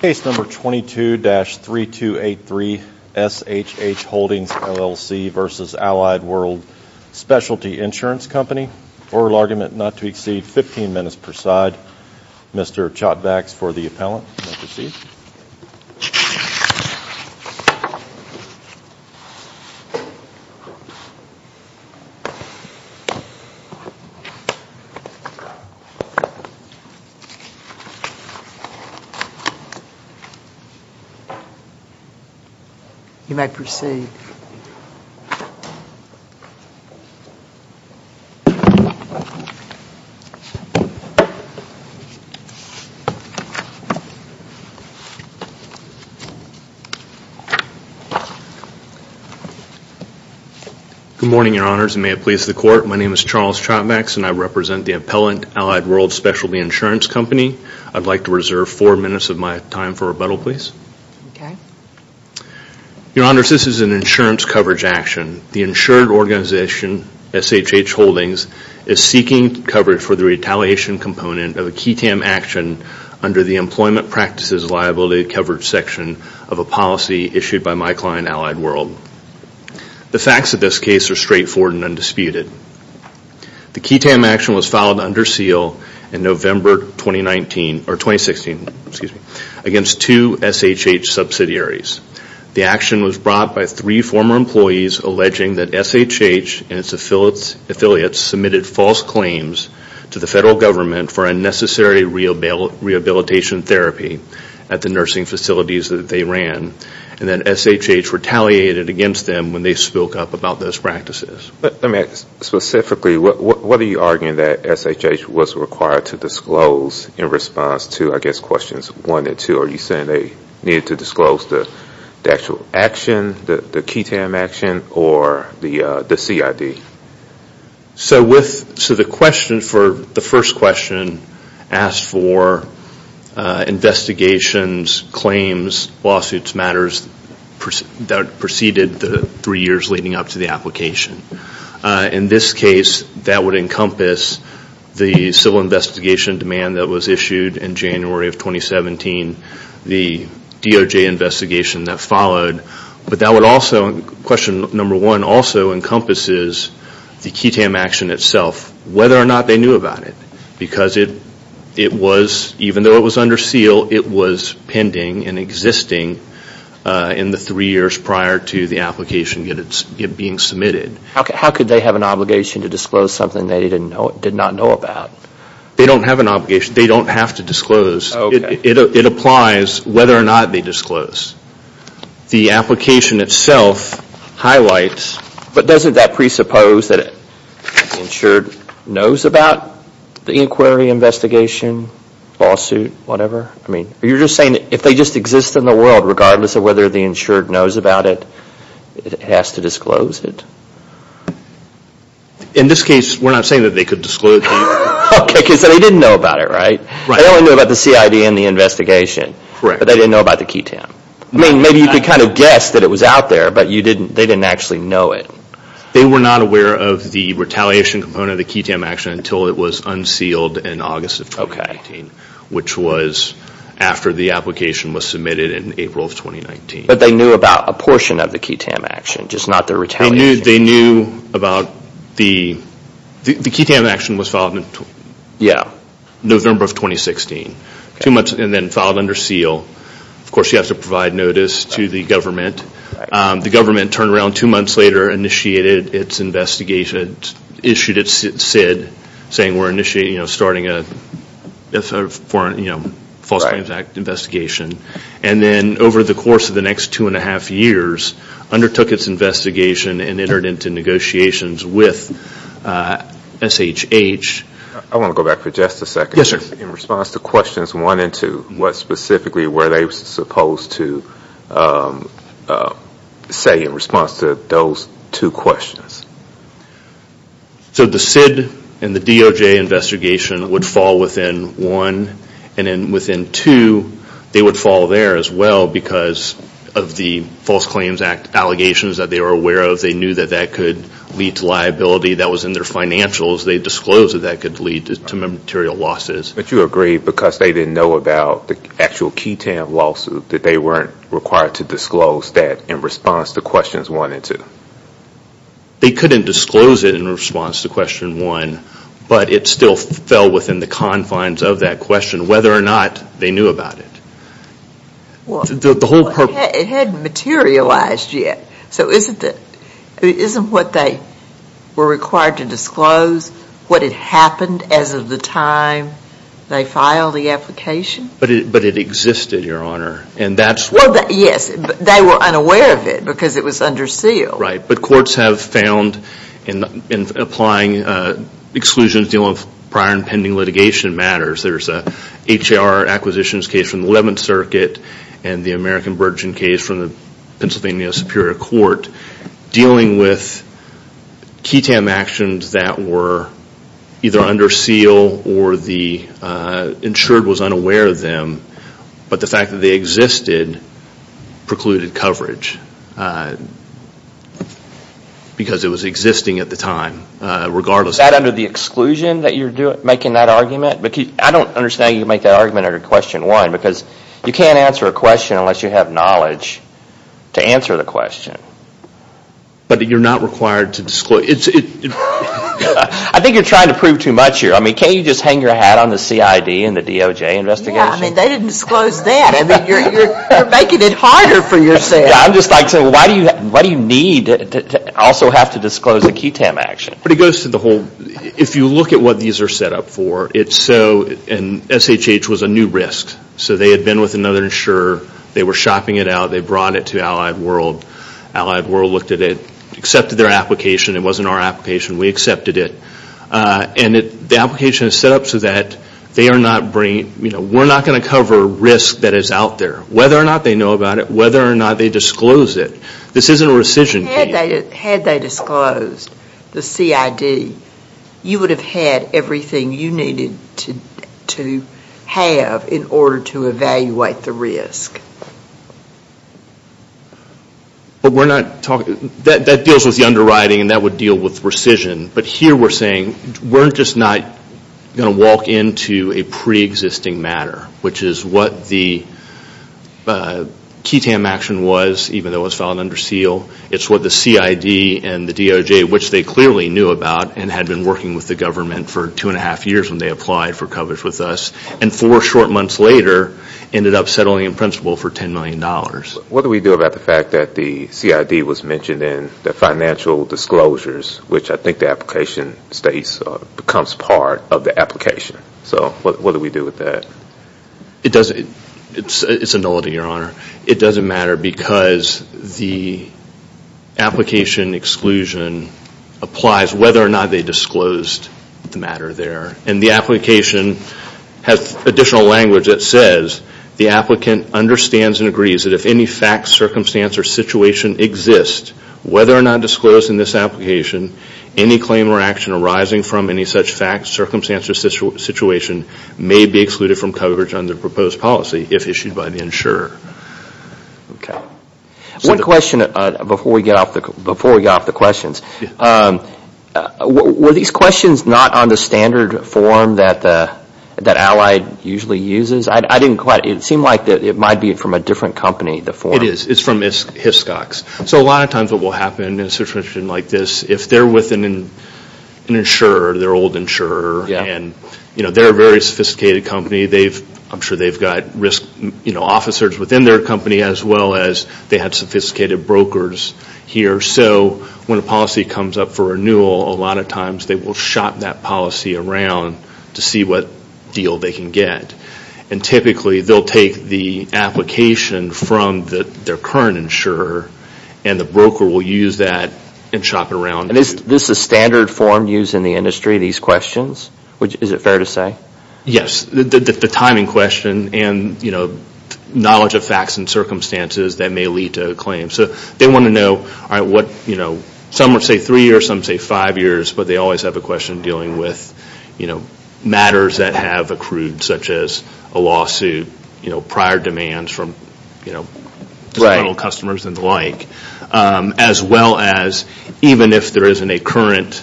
Case number 22-3283 SHH Holdings LLC v. Allied World Specialty Insurance Company. Oral argument not to exceed 15 minutes per side. Mr. Chotvacs for the appellant. Good morning, your honors, and may it please the court. My name is Charles Chotvacs and I represent the appellant, Allied World Specialty Insurance Company. I'd like to reserve four minutes of my time for rebuttal, please. Your honors, this is an insurance coverage action. The insured organization, SHH Holdings, is seeking coverage for the retaliation component of a KETAM action under the Employment Practices Liability Coverage section of a policy issued by my client, Allied World. The facts of this case are straightforward and undisputed. The KETAM action was filed under seal in November 2016 against two SHH subsidiaries. The action was brought by three former employees alleging that SHH and its affiliates submitted false claims to the federal government for unnecessary rehabilitation therapy at the nursing facilities that they ran and that SHH retaliated against them when they spoke up about those practices. Let me ask specifically, what are you arguing that SHH was required to disclose in response to I guess questions one and two? Are you saying they needed to disclose the actual action, the KETAM action, or the CID? So the first question asked for investigations, claims, lawsuits, matters that preceded the three years leading up to the application. In this case, that would encompass the civil investigation demand that was issued in January of 2017, the DOJ investigation that followed, but that would also, question number one, also encompasses the KETAM action itself, whether or not they knew about it. Because it was, even though it was under seal, it was pending and existing in the three years prior to the application being submitted. How could they have an obligation to disclose something they did not know about? They don't have an obligation. They don't have to disclose. It applies whether or not they disclose. The application itself highlights. But doesn't that presuppose that the insured knows about the inquiry, investigation, lawsuit, whatever? I mean, are you just saying that if they just exist in the world regardless of whether the has to disclose it? In this case, we're not saying that they could disclose. Okay, because they didn't know about it, right? Right. They only knew about the CID and the investigation. Correct. But they didn't know about the KETAM. I mean, maybe you could kind of guess that it was out there, but they didn't actually know it. They were not aware of the retaliation component of the KETAM action until it was unsealed in August of 2019, which was after the application was submitted in April of 2019. But they knew about a portion of the KETAM action, just not the retaliation. They knew about the... The KETAM action was filed in November of 2016, and then filed under seal. Of course, you have to provide notice to the government. The government turned around two months later, initiated its investigation, issued its CID, saying we're initiating, starting a false claims act investigation. And then over the course of the next two and a half years, undertook its investigation and entered into negotiations with SHH. I want to go back for just a second. Yes, sir. In response to questions one and two, what specifically were they supposed to say in response to those two questions? So the CID and the DOJ investigation would fall within one. And then within two, they would fall there as well because of the false claims act allegations that they were aware of. They knew that that could lead to liability. That was in their financials. They disclosed that that could lead to material losses. But you agree because they didn't know about the actual KETAM lawsuit that they weren't required to disclose that in response to questions one and two? They couldn't disclose it in response to question one, but it still fell within the confines of that question whether or not they knew about it. It hadn't materialized yet. So isn't what they were required to disclose what had happened as of the time they filed the application? But it existed, Your Honor. And that's what... Well, yes. They were unaware of it because it was under seal. Right. But courts have found in applying exclusions dealing with prior and pending litigation matters. There's a H.A.R. acquisitions case from the 11th Circuit and the American Virgin case from the Pennsylvania Superior Court dealing with KETAM actions that were either under the exclusion or under the exclusion. But the fact that they existed precluded coverage. Because it was existing at the time regardless of... Is that under the exclusion that you're making that argument? I don't understand how you make that argument under question one because you can't answer a question unless you have knowledge to answer the question. But you're not required to disclose... I think you're trying to prove too much here. I mean, can't you just hang your hat on the CID and the DOJ investigation? Yeah. I mean, they didn't disclose that. I mean, you're making it harder for yourself. Yeah. I'm just like saying, why do you need to also have to disclose a KETAM action? But it goes to the whole... If you look at what these are set up for, it's so... And SHH was a new risk. So they had been with another insurer. They were shopping it out. They brought it to Allied World. Allied World looked at it, accepted their application. It wasn't our application. We accepted it. And the application is set up so that they are not bringing... We're not going to cover risk that is out there. Whether or not they know about it, whether or not they disclose it. This isn't a rescission case. Had they disclosed the CID, you would have had everything you needed to have in order to evaluate the risk. But we're not talking... That deals with the underwriting and that would deal with rescission. But here we're saying, we're just not going to walk into a pre-existing matter, which is what the KETAM action was, even though it was filed under seal. It's what the CID and the DOJ, which they clearly knew about and had been working with the government for two and a half years when they applied for coverage with us, and four short months later ended up settling in principle for $10 million. What do we do about the fact that the CID was mentioned in the financial disclosures, which I think the application states becomes part of the application? So what do we do with that? It doesn't... It's a nullity, your honor. It doesn't matter because the application exclusion applies whether or not they disclosed the matter there. And the application has additional language that says, the applicant understands and agrees that if any fact, circumstance, or situation exists, whether or not disclosed in this application, any claim or action arising from any such fact, circumstance, or situation may be excluded from coverage under the proposed policy if issued by the insurer. Okay. One question before we get off the questions. Were these questions not on the standard form that Allied usually uses? I didn't quite... It seemed like it might be from a different company, the form. It is. It's from Hiscox. So a lot of times what will happen in a situation like this, if they're with an insurer, their old insurer, and they're a very sophisticated company, I'm sure they've got risk officers within their company as well as they have sophisticated brokers here. So when a policy comes up for renewal, a lot of times they will shop that policy around to see what deal they can get. And typically they'll take the application from their current insurer and the broker will use that and shop it around. And is this a standard form used in the industry, these questions? Is it fair to say? Yes. The timing question and knowledge of facts and circumstances that may lead to a claim. So they want to know, some say three years, some say five years, but they always have a question dealing with matters that have accrued, such as a lawsuit, prior demands from customers and the like, as well as even if there isn't a current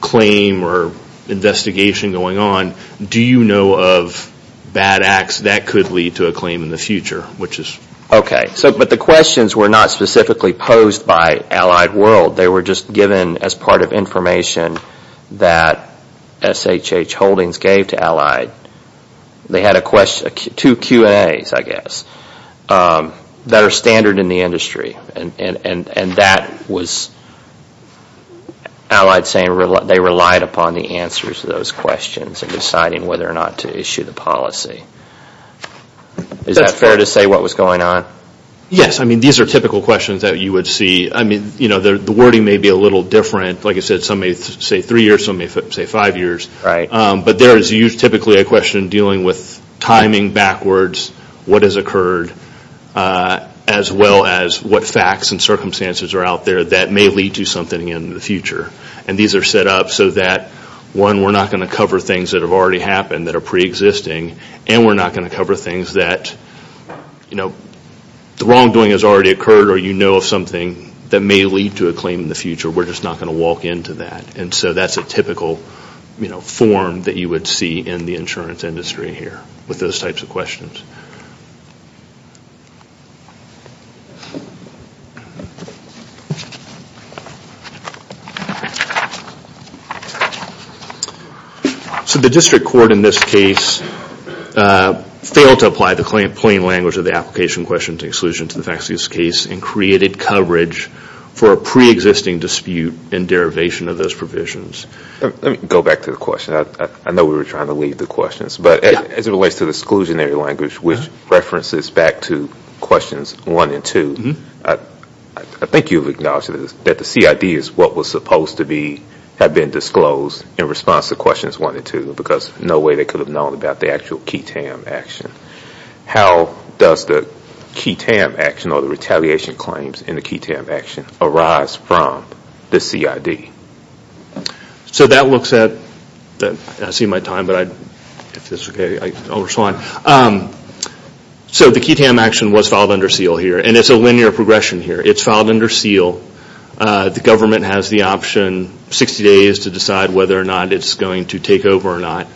claim or investigation going on, do you know of bad acts that could lead to a claim in the future? But the questions were not specifically posed by Allied World. They were just given as part of information that SHH Holdings gave to Allied. They had two Q&As, I guess, that are standard in the industry. And that was Allied saying they relied upon the answers to those questions in deciding whether or not to issue the policy. Is that fair to say what was going on? Yes. I mean, these are typical questions that you would see. The wording may be a little different. Like I said, some may say three years, some may say five years, but there is typically a question dealing with timing backwards, what has occurred, as well as what facts and circumstances are out there that may lead to something in the future. And these are set up so that, one, we're not going to cover things that have already happened that are pre-existing, and we're not going to cover things that, you know, the wrongdoing has already occurred or you know of something that may lead to a claim in the future. We're just not going to walk into that. And so that's a typical form that you would see in the insurance industry here with those types of questions. So the district court in this case failed to apply the plain language of the application question to exclusion to the facts of this case and created coverage for a pre-existing dispute in derivation of those provisions. Let me go back to the question. I know we were trying to leave the questions, but as it relates to the exclusionary language, which references back to questions one and two, I think you've acknowledged that the CID is what was supposed to be, had been disclosed in response to questions one and two because no way they could have known about the actual QI-TAM action. How does the QI-TAM action or the retaliation claims in the QI-TAM action arise from the CID? So that looks at, I see my time, but if it's okay, I'll respond. So the QI-TAM action was filed under seal here, and it's a linear progression here. It's filed under seal. The government has the option, 60 days to decide whether or not it's going to take over or not.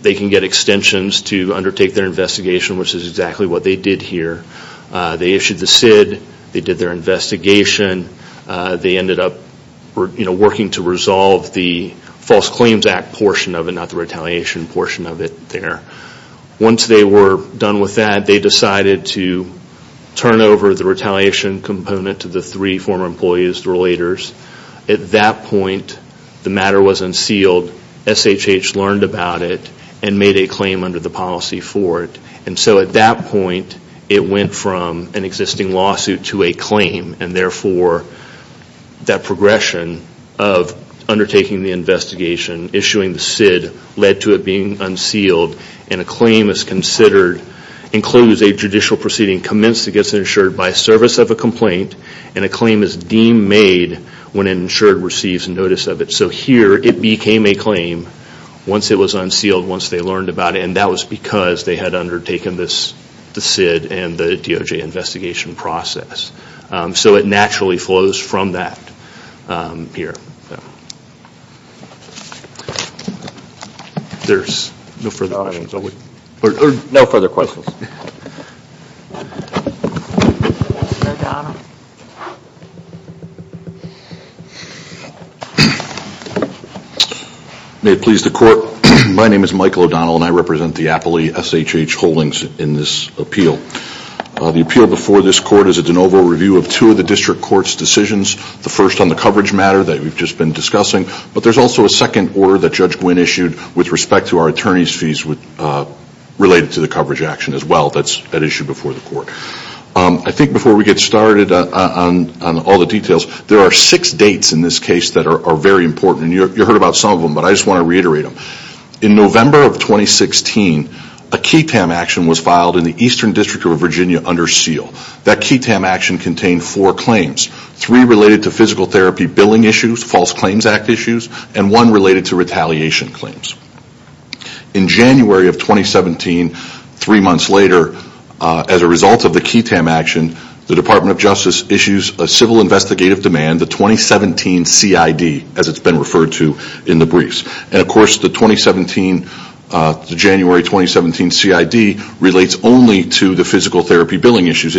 They can get extensions to undertake their investigation, which is exactly what they did here. They issued the CID. They did their investigation. They ended up working to resolve the False Claims Act portion of it, not the retaliation portion of it there. Once they were done with that, they decided to turn over the retaliation component to the three former employees, the relators. At that point, the matter was unsealed. SHH learned about it and made a claim under the policy for it. And so at that point, it went from an existing lawsuit to a claim, and therefore, that progression of undertaking the investigation, issuing the CID, led to it being unsealed. And a claim is considered, includes a judicial proceeding commenced against an insurer by service of a complaint, and a claim is deemed made when an insurer receives notice of it. So here, it became a claim once it was unsealed, once they learned about it, and that was because they had undertaken the CID and the DOJ investigation process. So it naturally flows from that here. There's no further questions. May it please the court, my name is Michael O'Donnell and I represent the Appley SHH Holdings in this appeal. The appeal before this court is a de novo review of two of the district court's decisions. The first on the coverage matter that we've just been discussing, but there's also a second order that Judge Gwynne issued with respect to our attorney's fees related to the coverage action as well. That's an issue before the court. I think before we get started on all the details, there are six dates in this case that are very important. You heard about some of them, but I just want to reiterate them. In November of 2016, a KTAM action was filed in the Eastern District of Virginia under seal. That KTAM action contained four claims. Three related to physical therapy billing issues, false claims act issues, and one related to retaliation claims. In January of 2017, three months later, as a result of the KTAM action, the Department of Justice issues a civil investigative demand, the 2017 CID, as it's been referred to in the briefs. Of course, the January 2017 CID relates only to the physical therapy billing issues.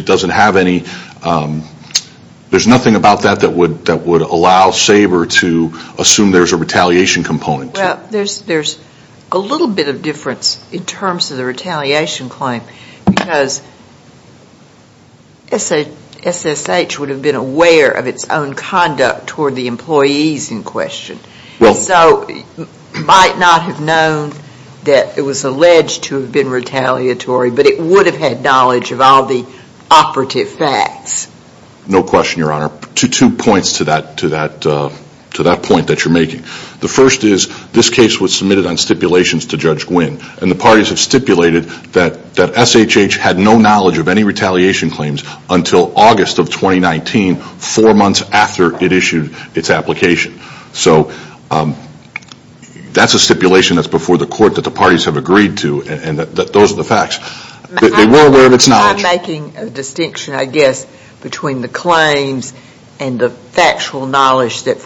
There's nothing about that that would allow SABR to assume there's a retaliation component. There's a little bit of difference in terms of the retaliation claim because SSH would have been aware of its own conduct toward the employees in question, so it might not have known that it was alleged to have been retaliatory, but it would have had knowledge of all the operative facts. No question, Your Honor. Two points to that point that you're making. The first is, this case was submitted on stipulations to Judge Gwynne, and the parties have stipulated that SHH had no knowledge of any retaliation claims until August of 2019, four months after it issued its application. That's a stipulation that's before the court that the parties have agreed to, and those are the facts. They were aware of its knowledge. I'm making a distinction, I guess, between the claims and the factual knowledge that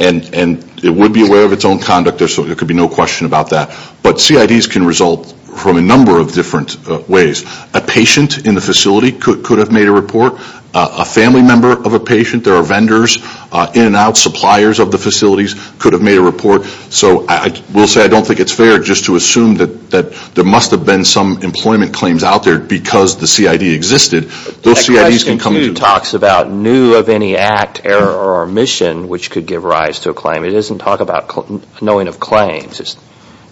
And it would be aware of its own conduct, so there could be no question about that. But CIDs can result from a number of different ways. A patient in the facility could have made a report. A family member of a patient, there are vendors, in and out suppliers of the facilities could have made a report. So, I will say I don't think it's fair just to assume that there must have been some employment claims out there because the CID existed. Those CIDs can come to- rise to a claim. It doesn't talk about knowing of claims. It's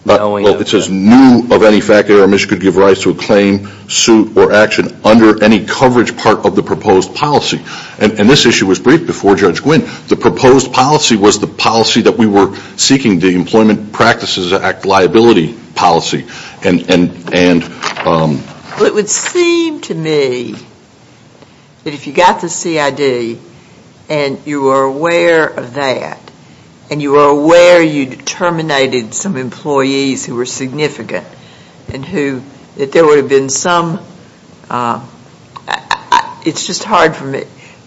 knowing of- Well, it says, knew of any fact that our mission could give rise to a claim, suit, or action under any coverage part of the proposed policy. And this issue was briefed before Judge Gwynne. The proposed policy was the policy that we were seeking, the Employment Practices Act liability policy, and- Well, it would seem to me that if you got the CID and you were aware of that, and you were aware you'd terminated some employees who were significant, and who- that there would have been some- it's just hard for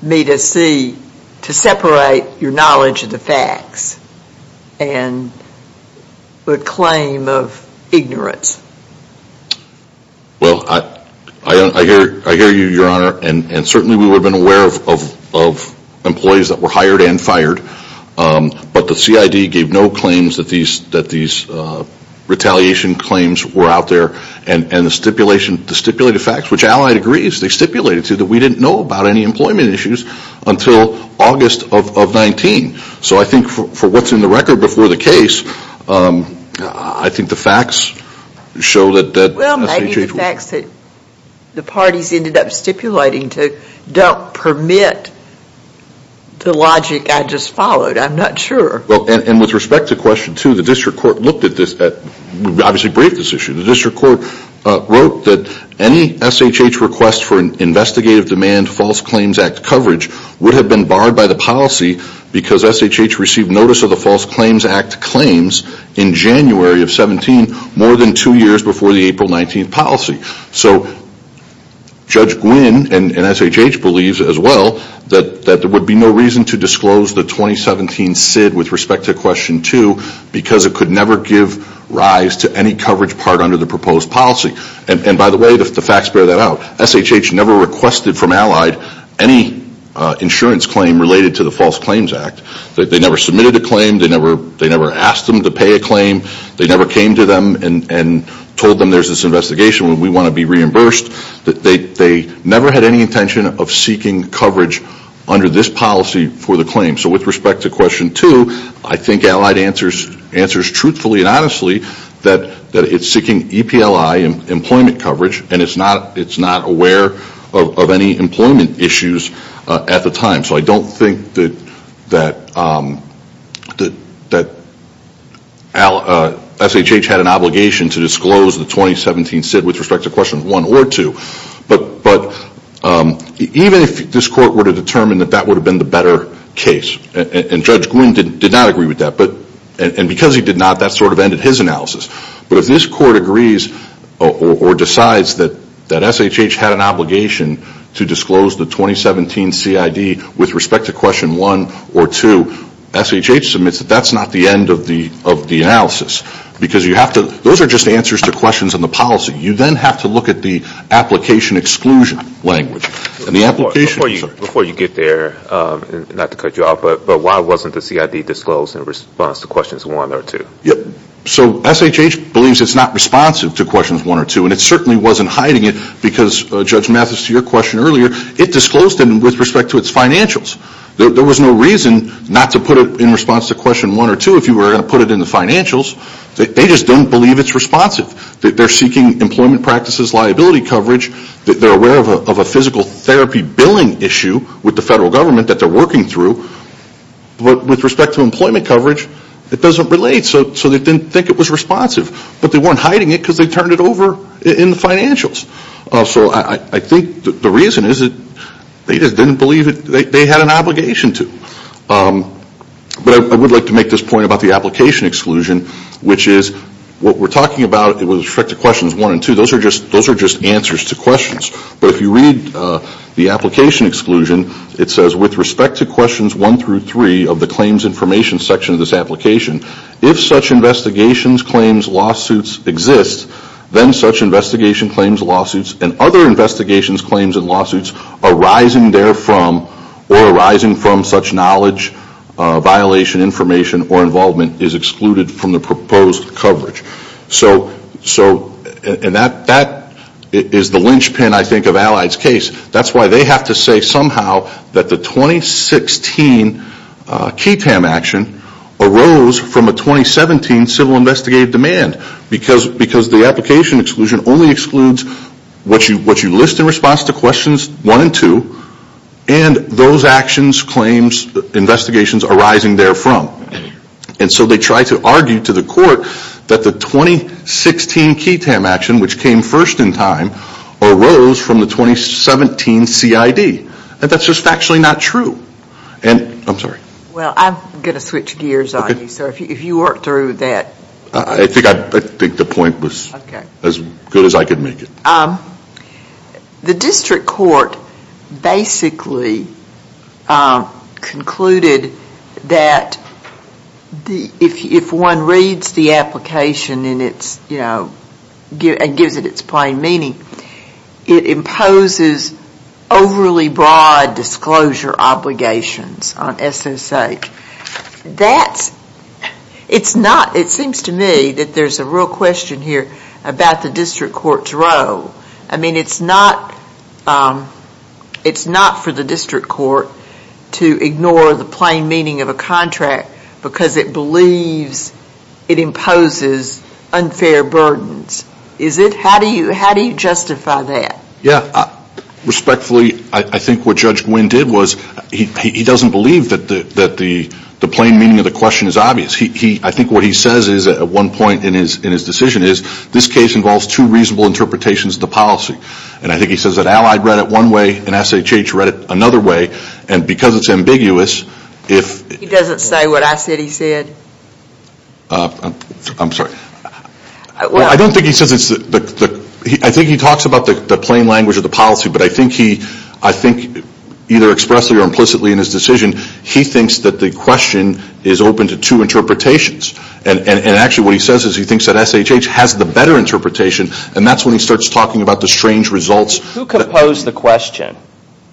me to see- to separate your knowledge of the facts and the claim of ignorance. Well, I hear you, Your Honor, and certainly we would have been aware of employees that were hired and fired, but the CID gave no claims that these retaliation claims were out there, and the stipulation- the stipulated facts, which Allied agrees, they stipulated to that we didn't know about any employment issues until August of 19. So I think for what's in the record before the case, I think the facts show that- Well, maybe the facts that the parties ended up stipulating don't permit the logic I just followed. I'm not sure. Well, and with respect to question two, the district court looked at this- obviously briefed this issue. The district court wrote that any SHH request for an investigative demand false claims act coverage would have been barred by the policy because SHH received notice of the false claims act claims in January of 17, more than two years before the April 19th policy. So Judge Gwynne and SHH believes as well that there would be no reason to disclose the 2017 CID with respect to question two because it could never give rise to any coverage part under the proposed policy. And by the way, the facts bear that out. SHH never requested from Allied any insurance claim related to the false claims act. They never submitted a claim. They never asked them to pay a claim. They never came to them and told them there's this investigation and we want to be reimbursed. They never had any intention of seeking coverage under this policy for the claim. So with respect to question two, I think Allied answers truthfully and honestly that it's employment coverage and it's not aware of any employment issues at the time. So I don't think that SHH had an obligation to disclose the 2017 CID with respect to question one or two. But even if this court were to determine that that would have been the better case, and Judge Gwynne did not agree with that, and because he did not, that sort of ended his analysis. But if this court agrees or decides that SHH had an obligation to disclose the 2017 CID with respect to question one or two, SHH submits that that's not the end of the analysis. Because you have to, those are just answers to questions in the policy. You then have to look at the application exclusion language. And the application... Before you get there, not to cut you off, but why wasn't the CID disclosed in response to questions one or two? So SHH believes it's not responsive to questions one or two, and it certainly wasn't hiding it because, Judge Mathis, to your question earlier, it disclosed it with respect to its financials. There was no reason not to put it in response to question one or two if you were going to put it in the financials. They just don't believe it's responsive. They're seeking employment practices, liability coverage, they're aware of a physical therapy billing issue with the federal government that they're working through, but with respect to employment coverage, it doesn't relate. So they didn't think it was responsive. But they weren't hiding it because they turned it over in the financials. So I think the reason is that they just didn't believe it, they had an obligation to. But I would like to make this point about the application exclusion, which is what we're talking about with respect to questions one and two, those are just answers to questions. But if you read the application exclusion, it says, with respect to questions one through three of the claims information section of this application, if such investigations, claims, lawsuits exist, then such investigation, claims, lawsuits, and other investigations, claims, and lawsuits arising therefrom or arising from such knowledge, violation, information, or involvement is excluded from the proposed coverage. So that is the linchpin, I think, of Allied's case. That's why they have to say somehow that the 2016 KETAM action arose from a 2017 civil investigative demand because the application exclusion only excludes what you list in response to questions one and two, and those actions, claims, investigations arising therefrom. And so they try to argue to the court that the 2016 KETAM action, which came first in time, arose from the 2017 CID. And that's just factually not true. Well I'm going to switch gears on you, sir, if you work through that. I think the point was as good as I could make it. The district court basically concluded that if one reads the application and gives it its plain meaning, it imposes overly broad disclosure obligations on SSH. It seems to me that there's a real question here about the district court's role. It's not for the district court to ignore the plain meaning of a contract because it imposes unfair burdens. Is it? How do you justify that? Yeah. Respectfully, I think what Judge Gwynne did was he doesn't believe that the plain meaning of the question is obvious. I think what he says is at one point in his decision is this case involves two reasonable interpretations of the policy. And I think he says that Allied read it one way and SHH read it another way. And because it's ambiguous, if... I'm sorry. I don't think he says it's... I think he talks about the plain language of the policy, but I think either expressly or implicitly in his decision, he thinks that the question is open to two interpretations. And actually what he says is he thinks that SHH has the better interpretation and that's when he starts talking about the strange results... Who composed the question?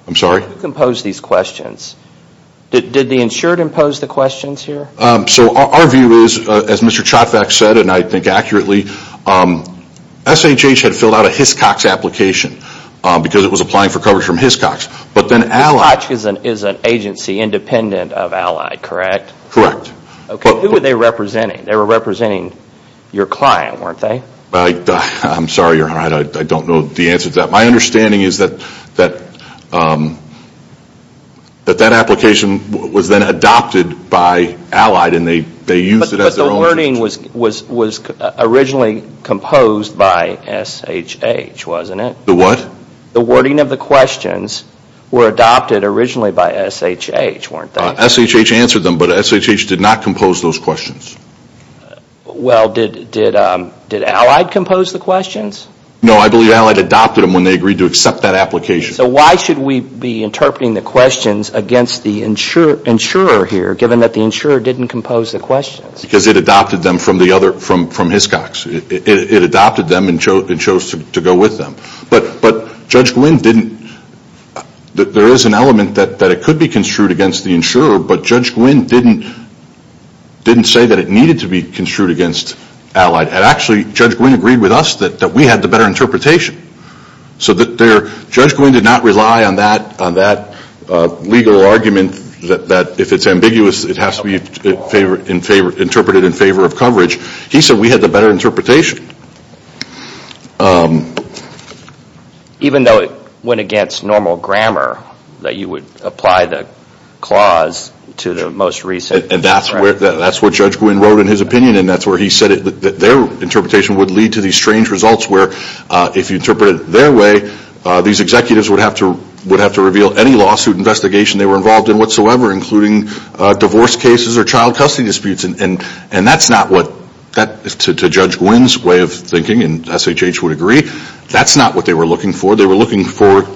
I'm sorry? Who composed these questions? Did the insured impose the questions here? So our view is, as Mr. Chotvac said and I think accurately, SHH had filled out a Hiscox application because it was applying for coverage from Hiscox, but then Allied... Hiscox is an agency independent of Allied, correct? Correct. Okay, who were they representing? They were representing your client, weren't they? I'm sorry, Your Honor. I don't know the answer to that. My understanding is that that application was then adopted by Allied and they used it as their own... But the wording was originally composed by SHH, wasn't it? The what? The wording of the questions were adopted originally by SHH, weren't they? SHH answered them, but SHH did not compose those questions. Well did Allied compose the questions? No, I believe Allied adopted them when they agreed to accept that application. So why should we be interpreting the questions against the insurer here, given that the insurer didn't compose the questions? Because it adopted them from Hiscox. It adopted them and chose to go with them. But Judge Gwynne didn't... There is an element that it could be construed against the insurer, but Judge Gwynne didn't say that it needed to be construed against Allied. And actually Judge Gwynne agreed with us that we had the better interpretation. So Judge Gwynne didn't not rely on that legal argument that if it's ambiguous it has to be interpreted in favor of coverage. He said we had the better interpretation. Even though it went against normal grammar that you would apply the clause to the most recent... And that's what Judge Gwynne wrote in his opinion and that's where he said that their interpretation would lead to these strange results where if you interpret it their way these executives would have to reveal any lawsuit investigation they were involved in whatsoever including divorce cases or child custody disputes. And that's not what... To Judge Gwynne's way of thinking, and SHH would agree, that's not what they were looking for. They were looking for,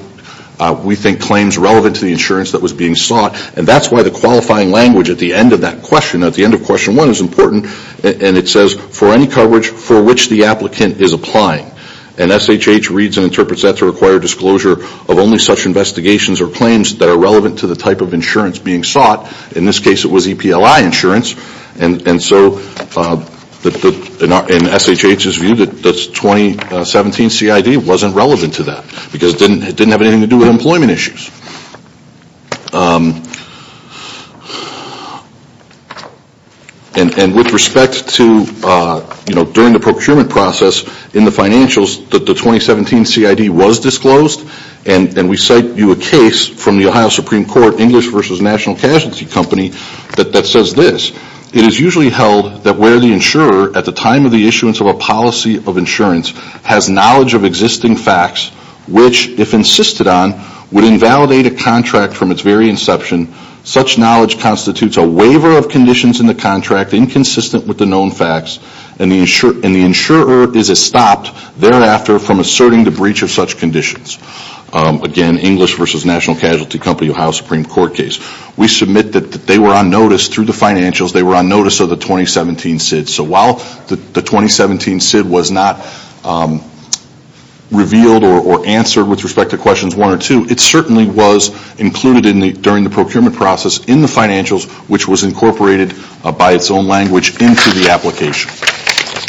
we think, claims relevant to the insurance that was being sought. And that's why the qualifying language at the end of that question, at the end of question one is important, and it says for any coverage for which the applicant is applying. And SHH reads and interprets that to require disclosure of only such investigations or claims that are relevant to the type of insurance being sought. In this case it was EPLI insurance. And so in SHH's view the 2017 CID wasn't relevant to that because it didn't have anything to do with employment issues. And with respect to during the procurement process in the financials the 2017 CID was disclosed and we cite you a case from the Ohio Supreme Court English versus National Casualty Company that says this, it is usually held that where the insurer at the time of the issuance of a policy of insurance has knowledge of existing facts which if insisted on would invalidate a contract from its very inception, such knowledge constitutes a waiver of conditions in the contract inconsistent with the known facts and the insurer is estopped thereafter from asserting the breach of such conditions. Again, English versus National Casualty Company, Ohio Supreme Court case. We submit that they were on notice through the financials, they were on notice of the 2017 CID. So while the 2017 CID was not revealed or answered with respect to questions one or two, it certainly was included during the procurement process in the financials which was incorporated by its own language into the application.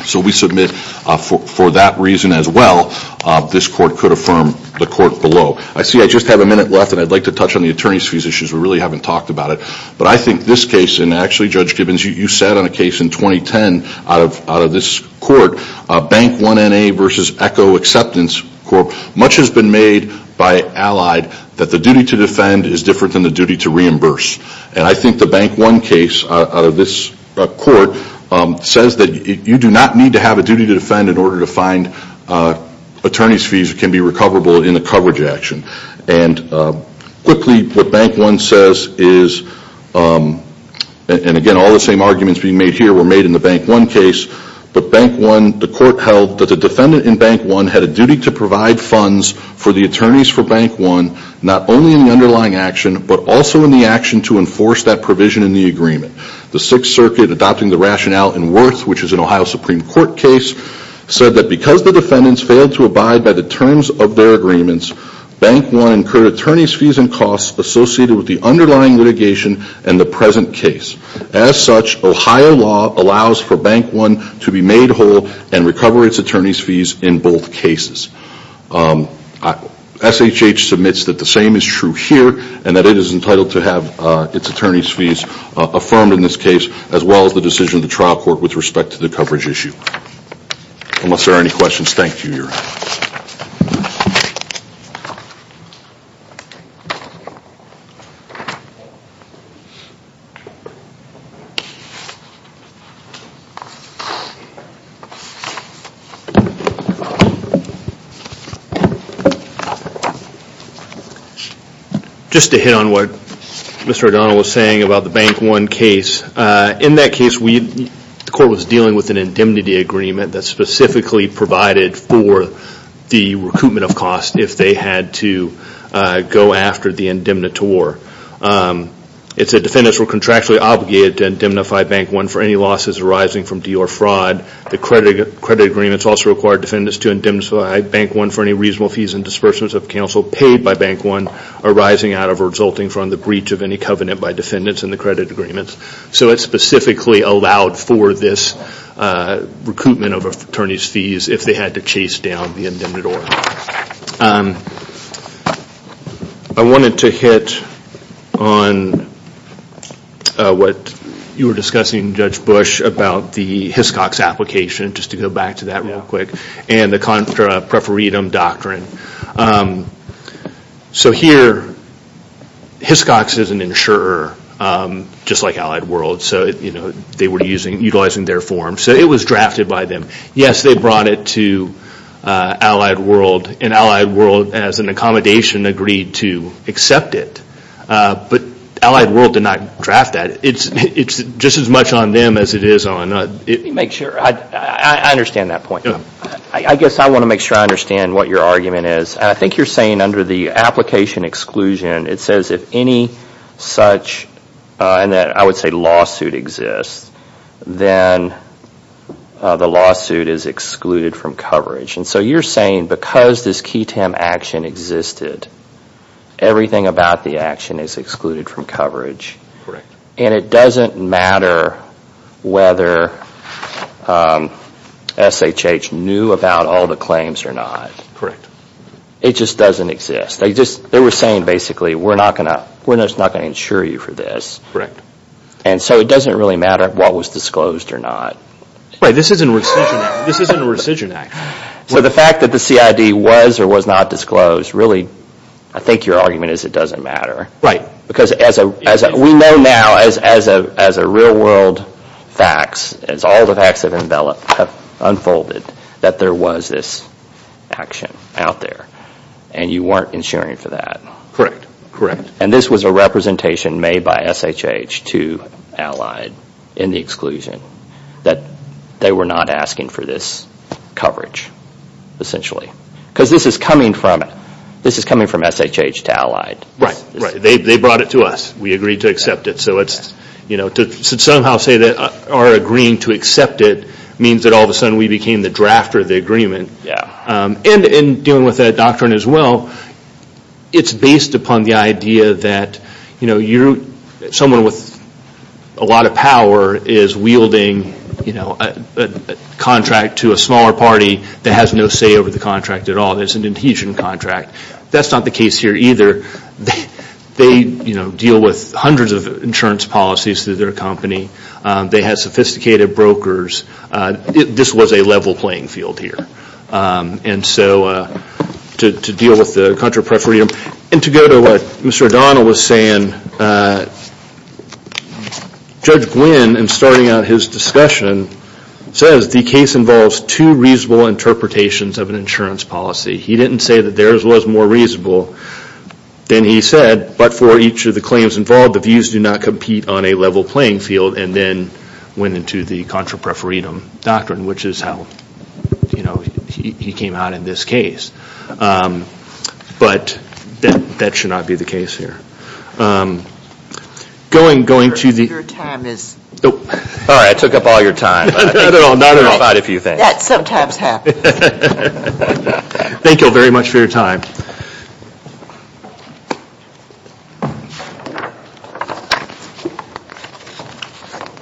So we submit for that reason as well this court could affirm the court below. I see I just have a minute left and I'd like to touch on the attorney's fees issues. We really haven't talked about it. But I think this case and actually Judge Gibbons you said on a case in 2010 out of this court, Bank One NA versus Echo Acceptance Corp. Much has been made by Allied that the duty to defend is different than the duty to reimburse. And I think the Bank One case out of this court says that you do not need to have a duty to defend in order to find attorney's fees that can be recoverable in a coverage action. And quickly what Bank One says is, and again all the same arguments being made here were made in the Bank One case, but Bank One, the court held that the defendant in Bank One had a duty to provide funds for the attorneys for Bank One not only in the underlying action but also in the action to enforce that provision in the agreement. The Sixth Circuit adopting the rationale in Worth which is an Ohio Supreme Court case said that because the defendants failed to abide by the terms of their agreements, Bank One incurred attorney's fees and costs associated with the underlying litigation and the present case. As such, Ohio law allows for Bank One to be made whole and recover its attorney's fees in both cases. SHH submits that the same is true here and that it is entitled to have its attorney's fees affirmed in this case as well as the decision of the trial court with respect to the coverage issue. Unless there are any questions, thank you. Just to hit on what Mr. O'Donnell was saying about the Bank One case, in that case the defendants had an indemnity agreement that specifically provided for the recoupment of cost if they had to go after the indemnitor. It said defendants were contractually obligated to indemnify Bank One for any losses arising from deal or fraud. The credit agreements also required defendants to indemnify Bank One for any reasonable fees and disbursements of counsel paid by Bank One arising out of or resulting from the breach of any covenant by defendants in the credit agreements. So it specifically allowed for this recoupment of attorney's fees if they had to chase down the indemnitor. I wanted to hit on what you were discussing, Judge Bush, about the Hiscox application and the contra preferitum doctrine. So here, Hiscox is an insurer, just like Allied World, so they were utilizing their form, so it was drafted by them. Yes, they brought it to Allied World and Allied World, as an accommodation, agreed to accept it. But Allied World did not draft that. It's just as much on them as it is on us. I understand that point. I guess I want to make sure I understand what your argument is. I think you're saying under the application exclusion, it says if any such, I would say lawsuit exists, then the lawsuit is excluded from coverage. And so you're saying because this QI-TEM action existed, everything about the action is excluded from coverage. And it doesn't matter whether SHH knew about all the claims or not. It just doesn't exist. They were saying basically, we're just not going to insure you for this. And so it doesn't really matter what was disclosed or not. Right, this isn't a rescission act. So the fact that the CID was or was not disclosed, really, I think your argument is it doesn't matter. Right. Because as we know now, as a real world facts, as all the facts have unfolded, that there was this action out there. And you weren't insuring for that. Correct. And this was a representation made by SHH to Allied in the exclusion that they were not asking for this coverage, essentially. Because this is coming from SHH to Allied. Right. They brought it to us. We agreed to accept it. So to somehow say that our agreeing to accept it means that all of a sudden we became the drafter of the agreement. And dealing with that doctrine as well, it's based upon the idea that someone with a lot of power is wielding a contract to a smaller party that has no say over the contract at all. There's an adhesion contract. That's not the case here either. They deal with hundreds of insurance policies through their company. They have sophisticated brokers. This was a level playing field here. And so to deal with the contra preferendum. And to go to what Mr. O'Donnell was saying, Judge Gwynne, in starting out his discussion, says the case involves two reasonable interpretations of an insurance policy. He didn't say that theirs was more reasonable than he said. But for each of the claims involved, the views do not compete on a level playing field. And then went into the contra preferendum doctrine, which is how he came out in this case. But that should not be the case here. Thank you all very much for your time.